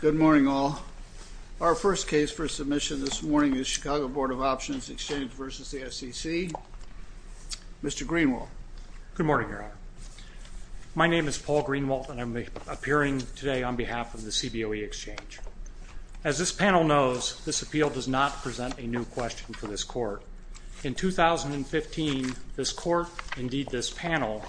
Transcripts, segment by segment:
Good morning, all. Our first case for submission this morning is Chicago Board of Options Exchange v. SEC. Mr. Greenwalt. Good morning, Your Honor. My name is Paul Greenwalt and I'm appearing today on behalf of the CBOE Exchange. As this panel knows, this appeal does not present a new question for this Court. In 2015, this Court, indeed this panel,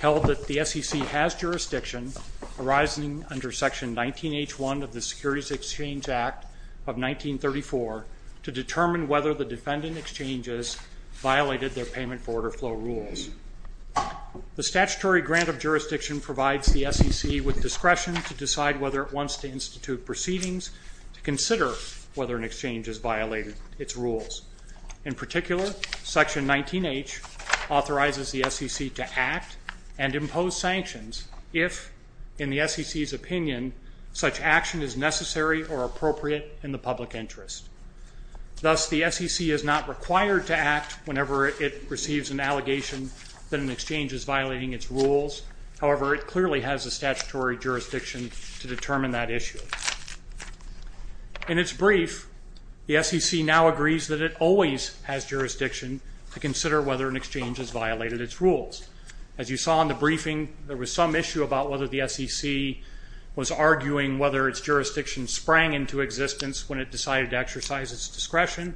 held that the SEC has jurisdiction arising under Section 19H1 of the Securities Exchange Act of 1934 to determine whether the defendant exchanges violated their payment for order flow rules. The statutory grant of jurisdiction provides the SEC with discretion to decide whether it wants to institute proceedings to consider whether an exchange has violated its rules. In particular, Section 19H authorizes the SEC to act and impose sanctions if, in the SEC's opinion, such action is necessary or appropriate in the public interest. Thus, the SEC is not required to act whenever it receives an allegation that an exchange is violating its rules. However, it clearly has the statutory jurisdiction to determine that issue. In its brief, the SEC now agrees that it always has jurisdiction to consider whether an exchange has violated its rules. As you saw in the briefing, there was some issue about whether the SEC was arguing whether its jurisdiction sprang into existence when it decided to exercise its discretion.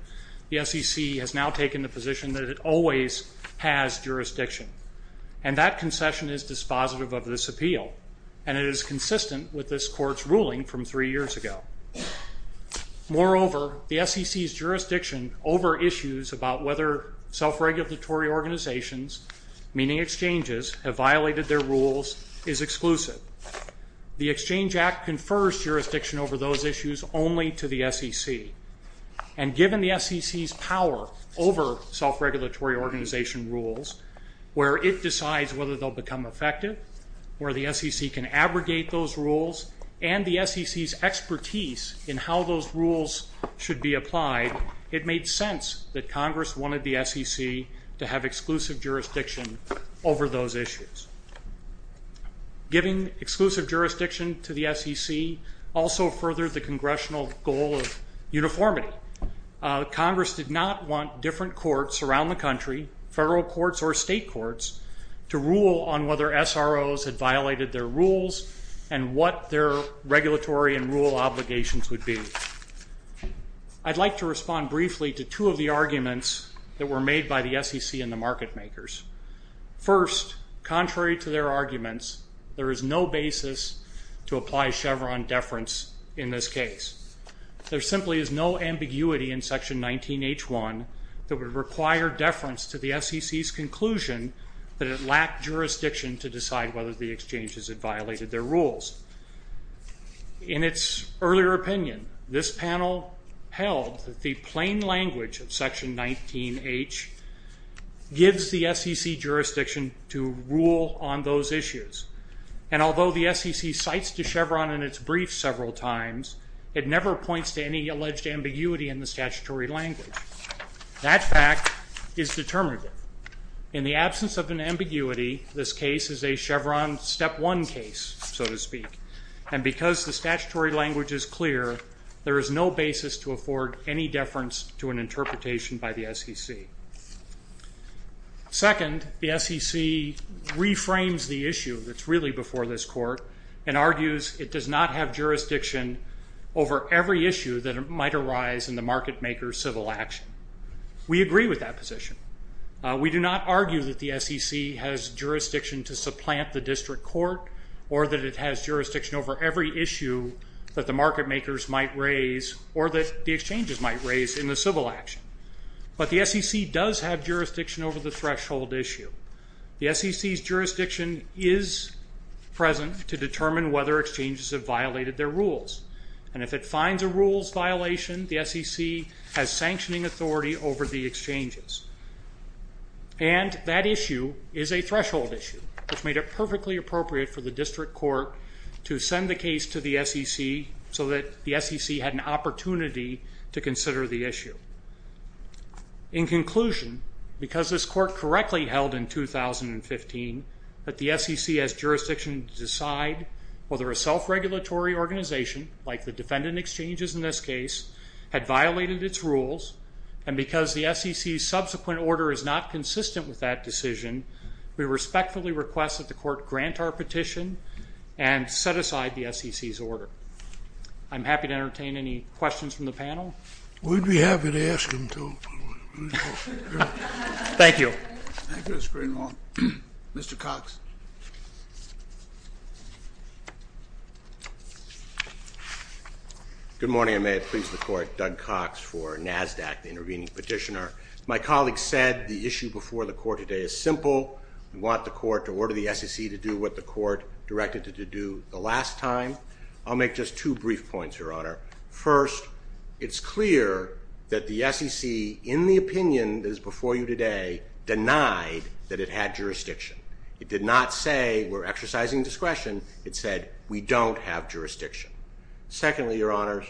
The SEC has now taken the position that it always has jurisdiction. And that concession is dispositive of this appeal, and it is consistent with this Court's ruling from three years ago. Moreover, the SEC's jurisdiction over issues about whether self-regulatory organizations, meaning exchanges, have violated their rules is exclusive. The Exchange Act confers jurisdiction over those issues only to the SEC. And given the SEC's power over self-regulatory organization rules, where it decides whether they'll become effective, where the SEC can abrogate those rules, and the SEC's expertise in how those rules should be applied, it made sense that Congress wanted the SEC to have exclusive jurisdiction over those issues. Giving exclusive jurisdiction to the SEC also furthered the Congressional goal of uniformity. Congress did not want different courts around the country, federal courts or state courts, to rule on whether SROs had violated their rules and what their regulatory and rule obligations would be. I'd like to respond briefly to two of the arguments that were made by the SEC and the market makers. First, contrary to their arguments, there is no basis to apply Chevron deference in this case. There simply is no ambiguity in Section 19H1 that would require deference to the SEC's conclusion that it lacked jurisdiction to decide whether the exchanges had violated their rules. In its earlier opinion, this panel held that the plain language of Section 19H gives the SEC jurisdiction to rule on those issues. And although the SEC cites to Chevron in its brief several times, it never points to any alleged ambiguity in the statutory language. That fact is determinative. In the absence of an ambiguity, this case is a Chevron step one case, so to speak. And because the statutory language is clear, there is no basis to afford any deference to an interpretation by the SEC. Second, the SEC reframes the issue that's really before this court and argues it does not have jurisdiction over every issue that might arise in the market maker's civil action. We agree with that position. We do not argue that the SEC has jurisdiction to supplant the district court or that it has jurisdiction over every issue that the market makers might raise or that the exchanges might raise in the civil action. But the SEC does have jurisdiction over the threshold issue. The SEC's jurisdiction is present to determine whether exchanges have violated their rules. And if it finds a rules violation, the SEC has sanctioning authority over the exchanges. And that issue is a threshold issue, which made it perfectly appropriate for the district court to send the case to the SEC so that the SEC had an opportunity to consider the issue. In conclusion, because this court correctly held in 2015 that the SEC has jurisdiction to decide whether a self-regulatory organization like the defendant exchanges in this case had violated its rules and because the SEC's subsequent order is not consistent with that decision, we respectfully request that the court grant our petition and set aside the SEC's order. I'm happy to entertain any questions from the panel. We'd be happy to ask them too. Thank you. Thank you, Mr. Greenlaw. Mr. Cox. Good morning. I may have pleased the court. Doug Cox for NASDAQ, the intervening petitioner. My colleague said the issue before the court today is simple. We want the court to order the SEC to do what the court directed it to do the last time. I'll make just two brief points, Your Honor. First, it's clear that the SEC, in the opinion that is before you today, denied that it had jurisdiction. It did not say we're exercising discretion. It said we don't have jurisdiction. Secondly, Your Honor,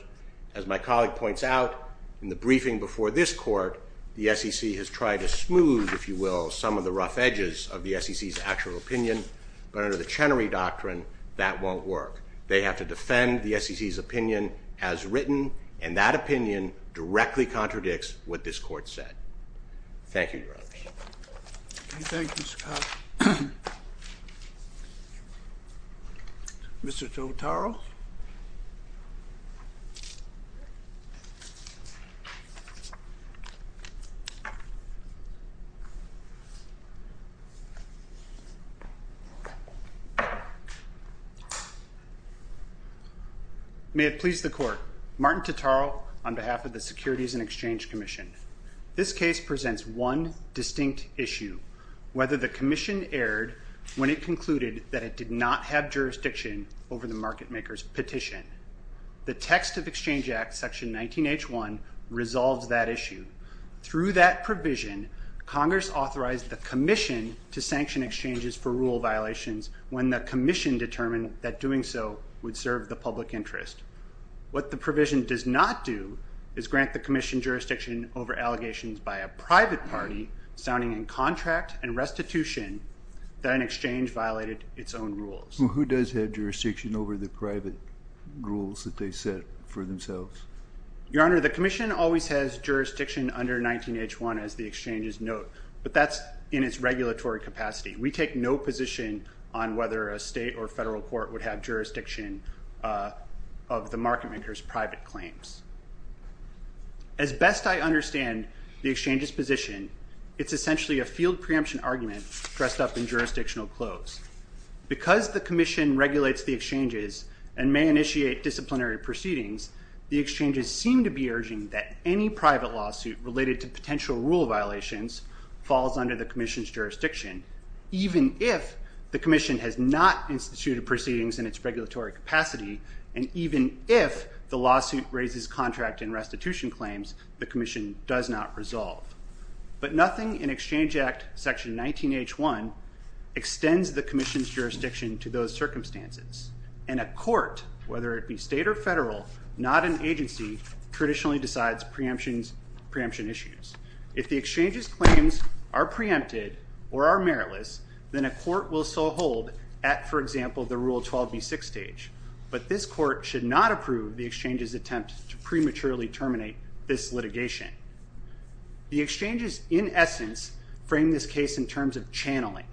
as my colleague points out, in the briefing before this court, the SEC has tried to smooth, if you will, some of the rough edges of the SEC's actual opinion, but under the Chenery Doctrine, that won't work. They have to defend the SEC's opinion as written, and that opinion directly contradicts what this court said. Thank you, Your Honor. Thank you, Mr. Cox. Mr. Totaro. May it please the court. Martin Totaro on behalf of the Securities and Exchange Commission. This case presents one distinct issue, whether the commission erred when it concluded that it did not have jurisdiction over the market maker's petition. The text of Exchange Act, Section 19H1, resolves that issue. Through that provision, Congress authorized the commission to sanction exchanges for rule violations when the commission determined that doing so would serve the public interest. What the provision does not do is grant the commission jurisdiction over allegations by a private party, sounding in contract and restitution, that an exchange violated its own rules. Who does have jurisdiction over the private rules that they set for themselves? Your Honor, the commission always has jurisdiction under 19H1, as the exchanges note, but that's in its regulatory capacity. We take no position on whether a state or federal court would have jurisdiction of the market maker's private claims. As best I understand the exchange's position, it's essentially a field preemption argument dressed up in jurisdictional clothes. Because the commission regulates the exchanges and may initiate disciplinary proceedings, the exchanges seem to be urging that any private lawsuit related to potential rule violations falls under the commission's jurisdiction, even if the commission has not instituted proceedings in its regulatory capacity, and even if the lawsuit raises contract and restitution claims, the commission does not resolve. But nothing in Exchange Act, Section 19H1, extends the commission's jurisdiction to those circumstances. And a court, whether it be state or federal, not an agency, traditionally decides preemption issues. If the exchange's claims are preempted or are meritless, then a court will still hold at, for example, the Rule 12b6 stage. But this court should not approve the exchange's attempt to prematurely terminate this litigation. The exchanges, in essence, frame this case in terms of channeling.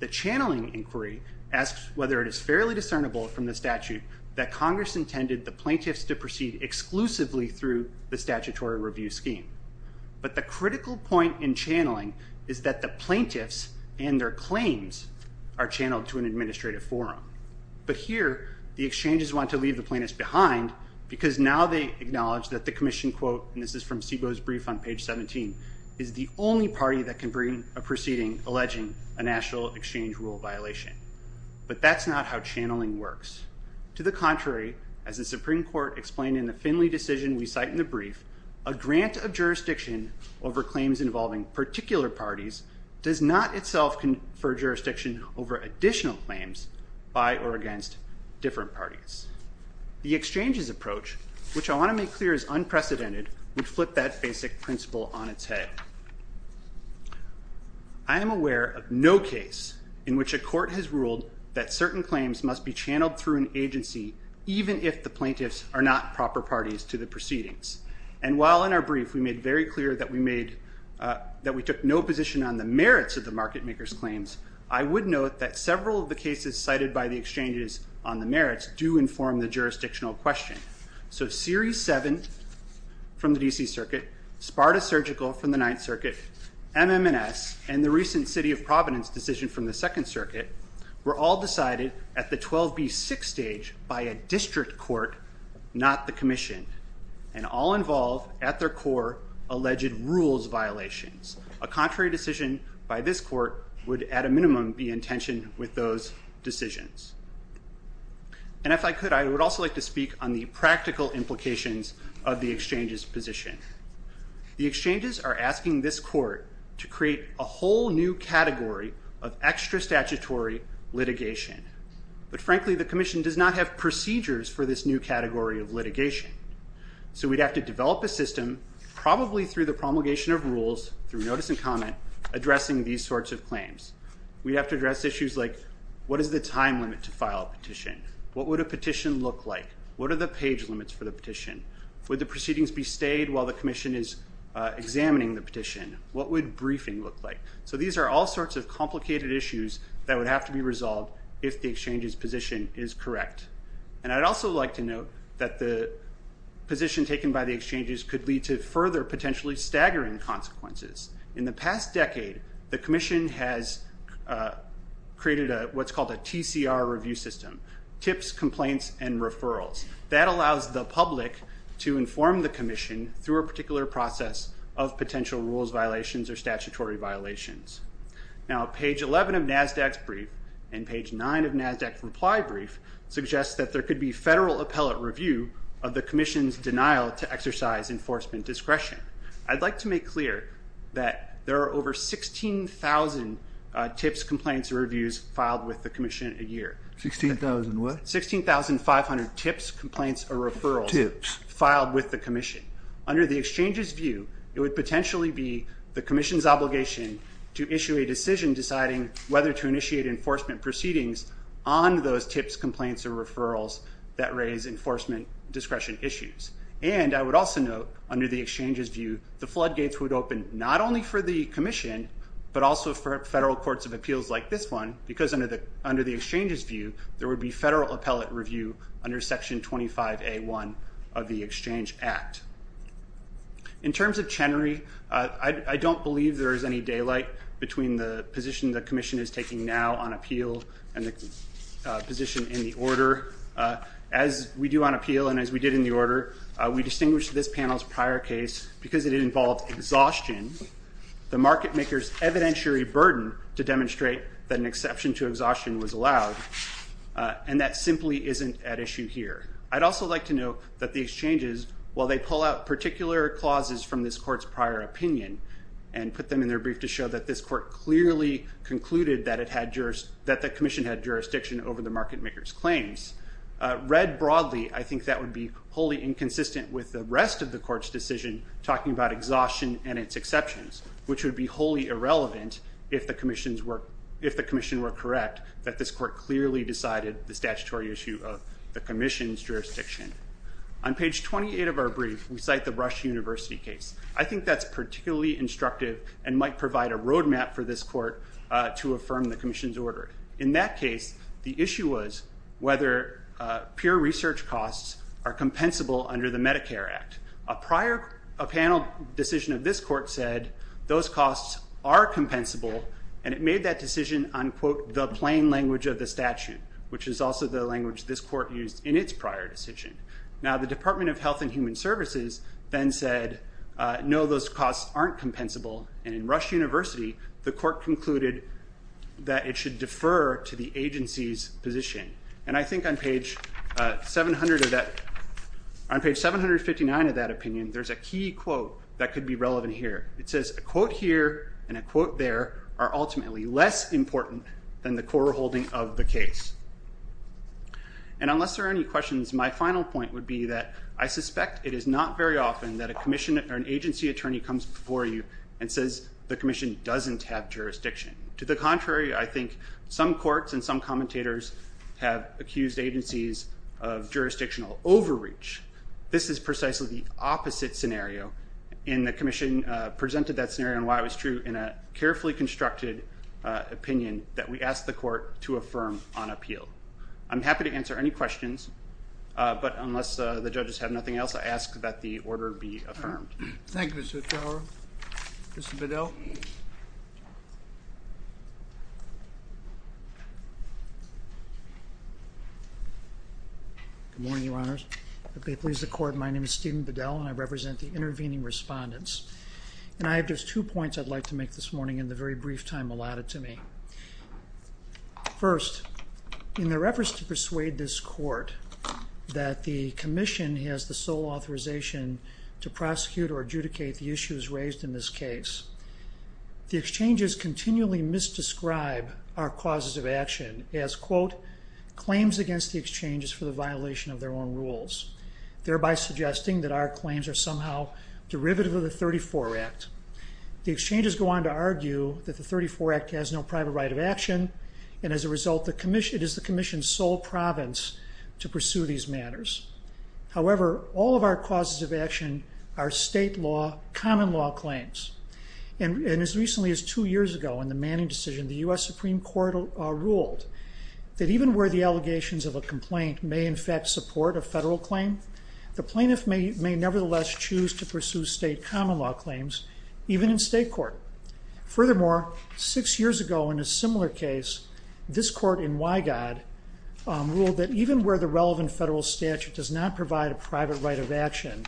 The channeling inquiry asks whether it is fairly discernible from the statute that Congress intended the plaintiffs to proceed exclusively through the statutory review scheme. But the critical point in channeling is that the plaintiffs and their claims are channeled to an administrative forum. But here, the exchanges want to leave the plaintiffs behind because now they acknowledge that the commission, quote, and this is from SIBO's brief on page 17, is the only party that can bring a proceeding alleging a national exchange rule violation. But that's not how channeling works. To the contrary, as the Supreme Court explained in the Finley decision we cite in the brief, a grant of jurisdiction over claims involving particular parties does not itself confer jurisdiction over additional claims by or against different parties. The exchanges approach, which I want to make clear is unprecedented, would flip that basic principle on its head. I am aware of no case in which a court has ruled that certain claims must be channeled through an agency even if the plaintiffs are not proper parties to the proceedings. And while in our brief we made very clear that we took no position on the merits of the market maker's claims, I would note that several of the cases cited by the exchanges on the merits do inform the jurisdictional question. So Series 7 from the D.C. Circuit, Sparta Surgical from the Ninth Circuit, MM&S, and the recent City of Providence decision from the Second Circuit were all decided at the 12B6 stage by a district court, not the commission, and all involve at their core alleged rules violations. A contrary decision by this court would at a minimum be in tension with those decisions. And if I could, I would also like to speak on the practical implications of the exchanges' position. The exchanges are asking this court to create a whole new category of extra statutory litigation. But frankly, the commission does not have procedures for this new category of litigation. So we'd have to develop a system, probably through the promulgation of rules, through notice and comment, addressing these sorts of claims. We'd have to address issues like, what is the time limit to file a petition? What would a petition look like? What are the page limits for the petition? Would the proceedings be stayed while the commission is examining the petition? What would briefing look like? So these are all sorts of complicated issues that would have to be resolved if the exchanges' position is correct. And I'd also like to note that the position taken by the exchanges could lead to further potentially staggering consequences. In the past decade, the commission has created what's called a TCR review system, tips, complaints, and referrals. That allows the public to inform the commission through a particular process of potential rules violations or statutory violations. Now, page 11 of NASDAQ's brief and page 9 of NASDAQ's reply brief suggests that there could be federal appellate review of the commission's denial to exercise enforcement discretion. I'd like to make clear that there are over 16,000 tips, complaints, and reviews filed with the commission a year. 16,000 what? 16,500 tips, complaints, or referrals. Tips. Filed with the commission. Under the exchanges' view, it would potentially be the commission's obligation to issue a decision deciding whether to initiate enforcement proceedings on those tips, complaints, or referrals that raise enforcement discretion issues. And I would also note, under the exchanges' view, the floodgates would open not only for the commission, but also for federal courts of appeals like this one, because under the exchanges' view, there would be federal appellate review under Section 25A1 of the Exchange Act. In terms of Chenery, I don't believe there is any daylight between the position the commission is taking now on appeal and the position in the order. As we do on appeal and as we did in the order, we distinguish this panel's prior case because it involved exhaustion. The market maker's evidentiary burden to demonstrate that an exception to exhaustion was allowed, and that simply isn't at issue here. I'd also like to note that the exchanges, while they pull out particular clauses from this court's prior opinion and put them in their brief to show that this court clearly concluded that the commission had jurisdiction over the market maker's claims, read broadly, I think that would be wholly inconsistent with the rest of the court's decision talking about exhaustion and its exceptions, which would be wholly irrelevant if the commission were correct that this court clearly decided the statutory issue of the commission's jurisdiction. On page 28 of our brief, we cite the Rush University case. I think that's particularly instructive and might provide a roadmap for this court to affirm the commission's order. In that case, the issue was whether pure research costs are compensable under the Medicare Act. A panel decision of this court said those costs are compensable, and it made that decision on, quote, the plain language of the statute, which is also the language this court used in its prior decision. Now, the Department of Health and Human Services then said, no, those costs aren't compensable, and in Rush University, the court concluded that it should defer to the agency's position. And I think on page 759 of that opinion, there's a key quote that could be relevant here. It says, a quote here and a quote there are ultimately less important than the core holding of the case. And unless there are any questions, my final point would be that I suspect it is not very often that a commission or an agency attorney comes before you and says the commission doesn't have jurisdiction. To the contrary, I think some courts and some commentators have accused agencies of jurisdictional overreach. This is precisely the opposite scenario. And the commission presented that scenario and why it was true in a carefully constructed opinion that we asked the court to affirm on appeal. I'm happy to answer any questions, but unless the judges have nothing else, I ask that the order be affirmed. Thank you, Mr. Fowler. Mr. Bedell? Good morning, Your Honors. If they please the court, my name is Stephen Bedell, and I represent the intervening respondents. And I have just two points I'd like to make this morning in the very brief time allotted to me. First, in their efforts to persuade this court that the commission has the sole authorization to prosecute or adjudicate the issues raised in this case, the exchanges continually misdescribe our causes of action as, quote, claims against the exchanges for the violation of their own rules, thereby suggesting that our claims are somehow derivative of the 34 Act. The exchanges go on to argue that the 34 Act has no private right of action, and as a result it is the commission's sole province to pursue these matters. However, all of our causes of action are state law, common law claims. And as recently as two years ago in the Manning decision, the U.S. Supreme Court ruled that even where the allegations of a complaint may in fact support a federal claim, the plaintiff may nevertheless choose to pursue state common law claims even in state court. Furthermore, six years ago in a similar case, this court in Wygod ruled that even where the relevant federal statute does not provide a private right of action,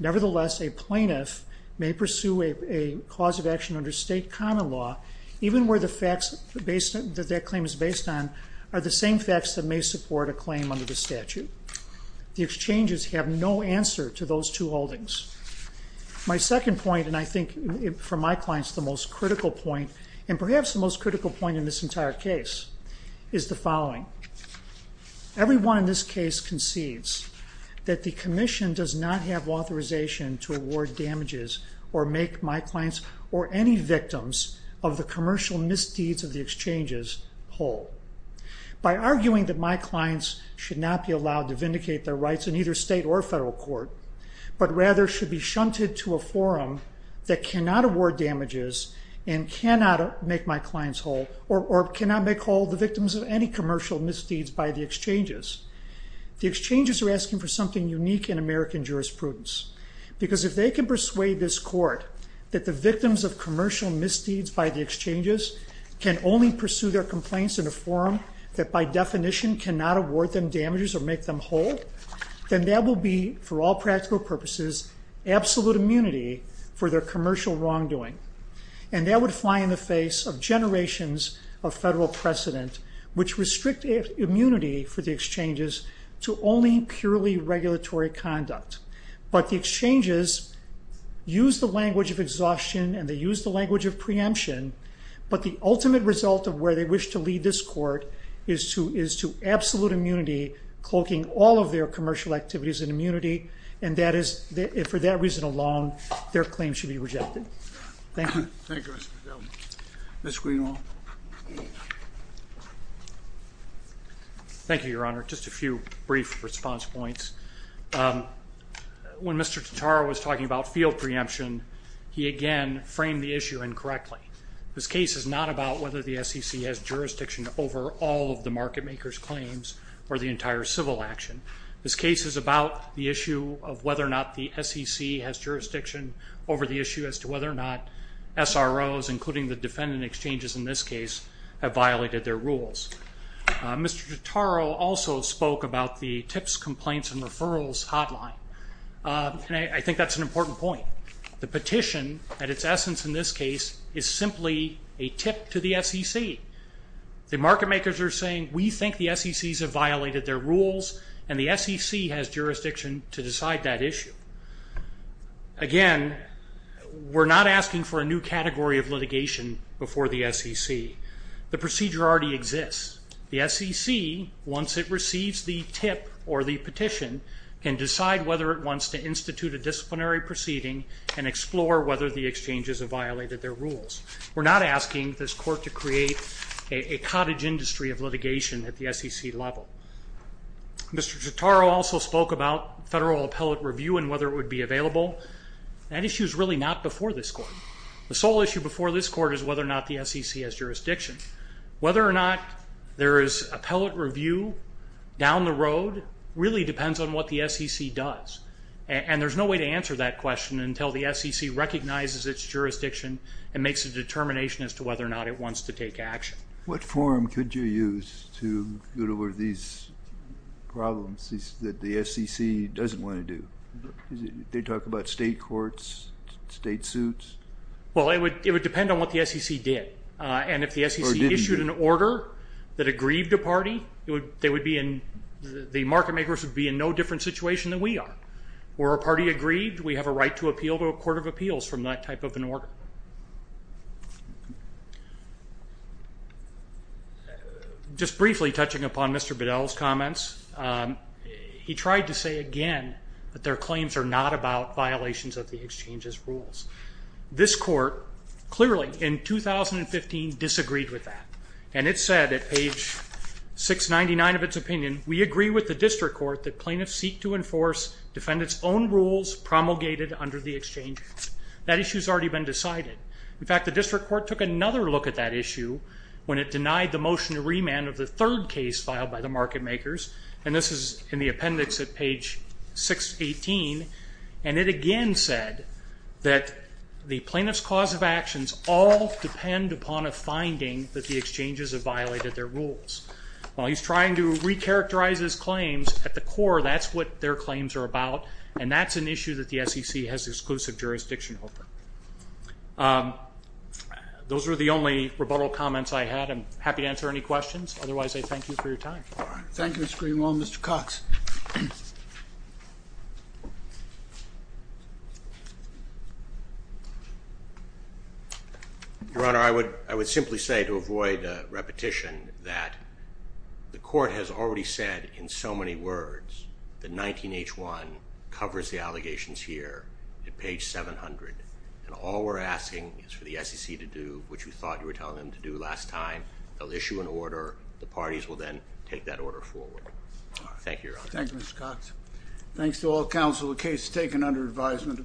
nevertheless a plaintiff may pursue a cause of action under state common law even where the facts that that claim is based on are the same facts that may support a claim under the statute. The exchanges have no answer to those two holdings. My second point, and I think for my clients the most critical point, and perhaps the most critical point in this entire case, is the following. Everyone in this case concedes that the commission does not have authorization to award damages or make my clients or any victims of the commercial misdeeds of the exchanges whole. By arguing that my clients should not be allowed to vindicate their rights in either state or federal court, but rather should be shunted to a forum that cannot award damages and cannot make my clients whole or cannot make whole the victims of any commercial misdeeds by the exchanges. The exchanges are asking for something unique in American jurisprudence because if they can persuade this court that the victims of commercial misdeeds by the exchanges can only pursue their complaints in a forum that by definition cannot award them damages or make them whole, then that will be, for all practical purposes, absolute immunity for their commercial wrongdoing. And that would fly in the face of generations of federal precedent which restrict immunity for the exchanges to only purely regulatory conduct. But the exchanges use the language of exhaustion and they use the language of preemption, but the ultimate result of where they wish to lead this court is to absolute immunity cloaking all of their commercial activities in immunity, and for that reason alone, their claims should be rejected. Thank you. Thank you, Mr. Fidel. Mr. Greenwald. Thank you, Your Honor. Just a few brief response points. When Mr. Totaro was talking about field preemption, he again framed the issue incorrectly. This case is not about whether the SEC has jurisdiction over all of the market maker's claims or the entire civil action. This case is about the issue of whether or not the SEC has jurisdiction over the issue as to whether or not SROs, including the defendant exchanges in this case, have violated their rules. Mr. Totaro also spoke about the tips, complaints, and referrals hotline, and I think that's an important point. The petition, at its essence in this case, is simply a tip to the SEC. The market makers are saying we think the SECs have violated their rules and the SEC has jurisdiction to decide that issue. Again, we're not asking for a new category of litigation before the SEC. The procedure already exists. The SEC, once it receives the tip or the petition, can decide whether it wants to institute a disciplinary proceeding and explore whether the exchanges have violated their rules. We're not asking this court to create a cottage industry of litigation at the SEC level. Mr. Totaro also spoke about federal appellate review and whether it would be available. That issue is really not before this court. The sole issue before this court is whether or not the SEC has jurisdiction. Whether or not there is appellate review down the road really depends on what the SEC does, and there's no way to answer that question until the SEC recognizes its jurisdiction and makes a determination as to whether or not it wants to take action. What forum could you use to go over these problems that the SEC doesn't want to do? They talk about state courts, state suits. Well, it would depend on what the SEC did, and if the SEC issued an order that aggrieved a party, the market makers would be in no different situation than we are. Were a party aggrieved, we have a right to appeal to a court of appeals from that type of an order. Just briefly touching upon Mr. Bedell's comments, he tried to say again that their claims are not about violations of the exchange's rules. This court clearly in 2015 disagreed with that, and it said at page 699 of its opinion, we agree with the district court that plaintiffs seek to enforce, defend its own rules promulgated under the exchange. That issue has already been decided. In fact, the district court took another look at that issue when it denied the motion to remand of the third case filed by the market makers, and this is in the appendix at page 618, and it again said that the plaintiff's cause of actions all depend upon a finding that the exchanges have violated their rules. While he's trying to recharacterize his claims, at the core that's what their claims are about, and that's an issue that the SEC has exclusive jurisdiction over. Those were the only rebuttal comments I had. I'm happy to answer any questions. Otherwise, I thank you for your time. Thank you, Mr. Greenwald. Mr. Cox. Your Honor, I would simply say to avoid repetition that the court has already said in so many words that 19-H-1 covers the allegations here at page 700, and all we're asking is for the SEC to do what you thought you were telling them to do last time. They'll issue an order. The parties will then take that order forward. Thank you, Your Honor. Thank you, Mr. Cox. Thanks to all counsel, the case is taken under advisement.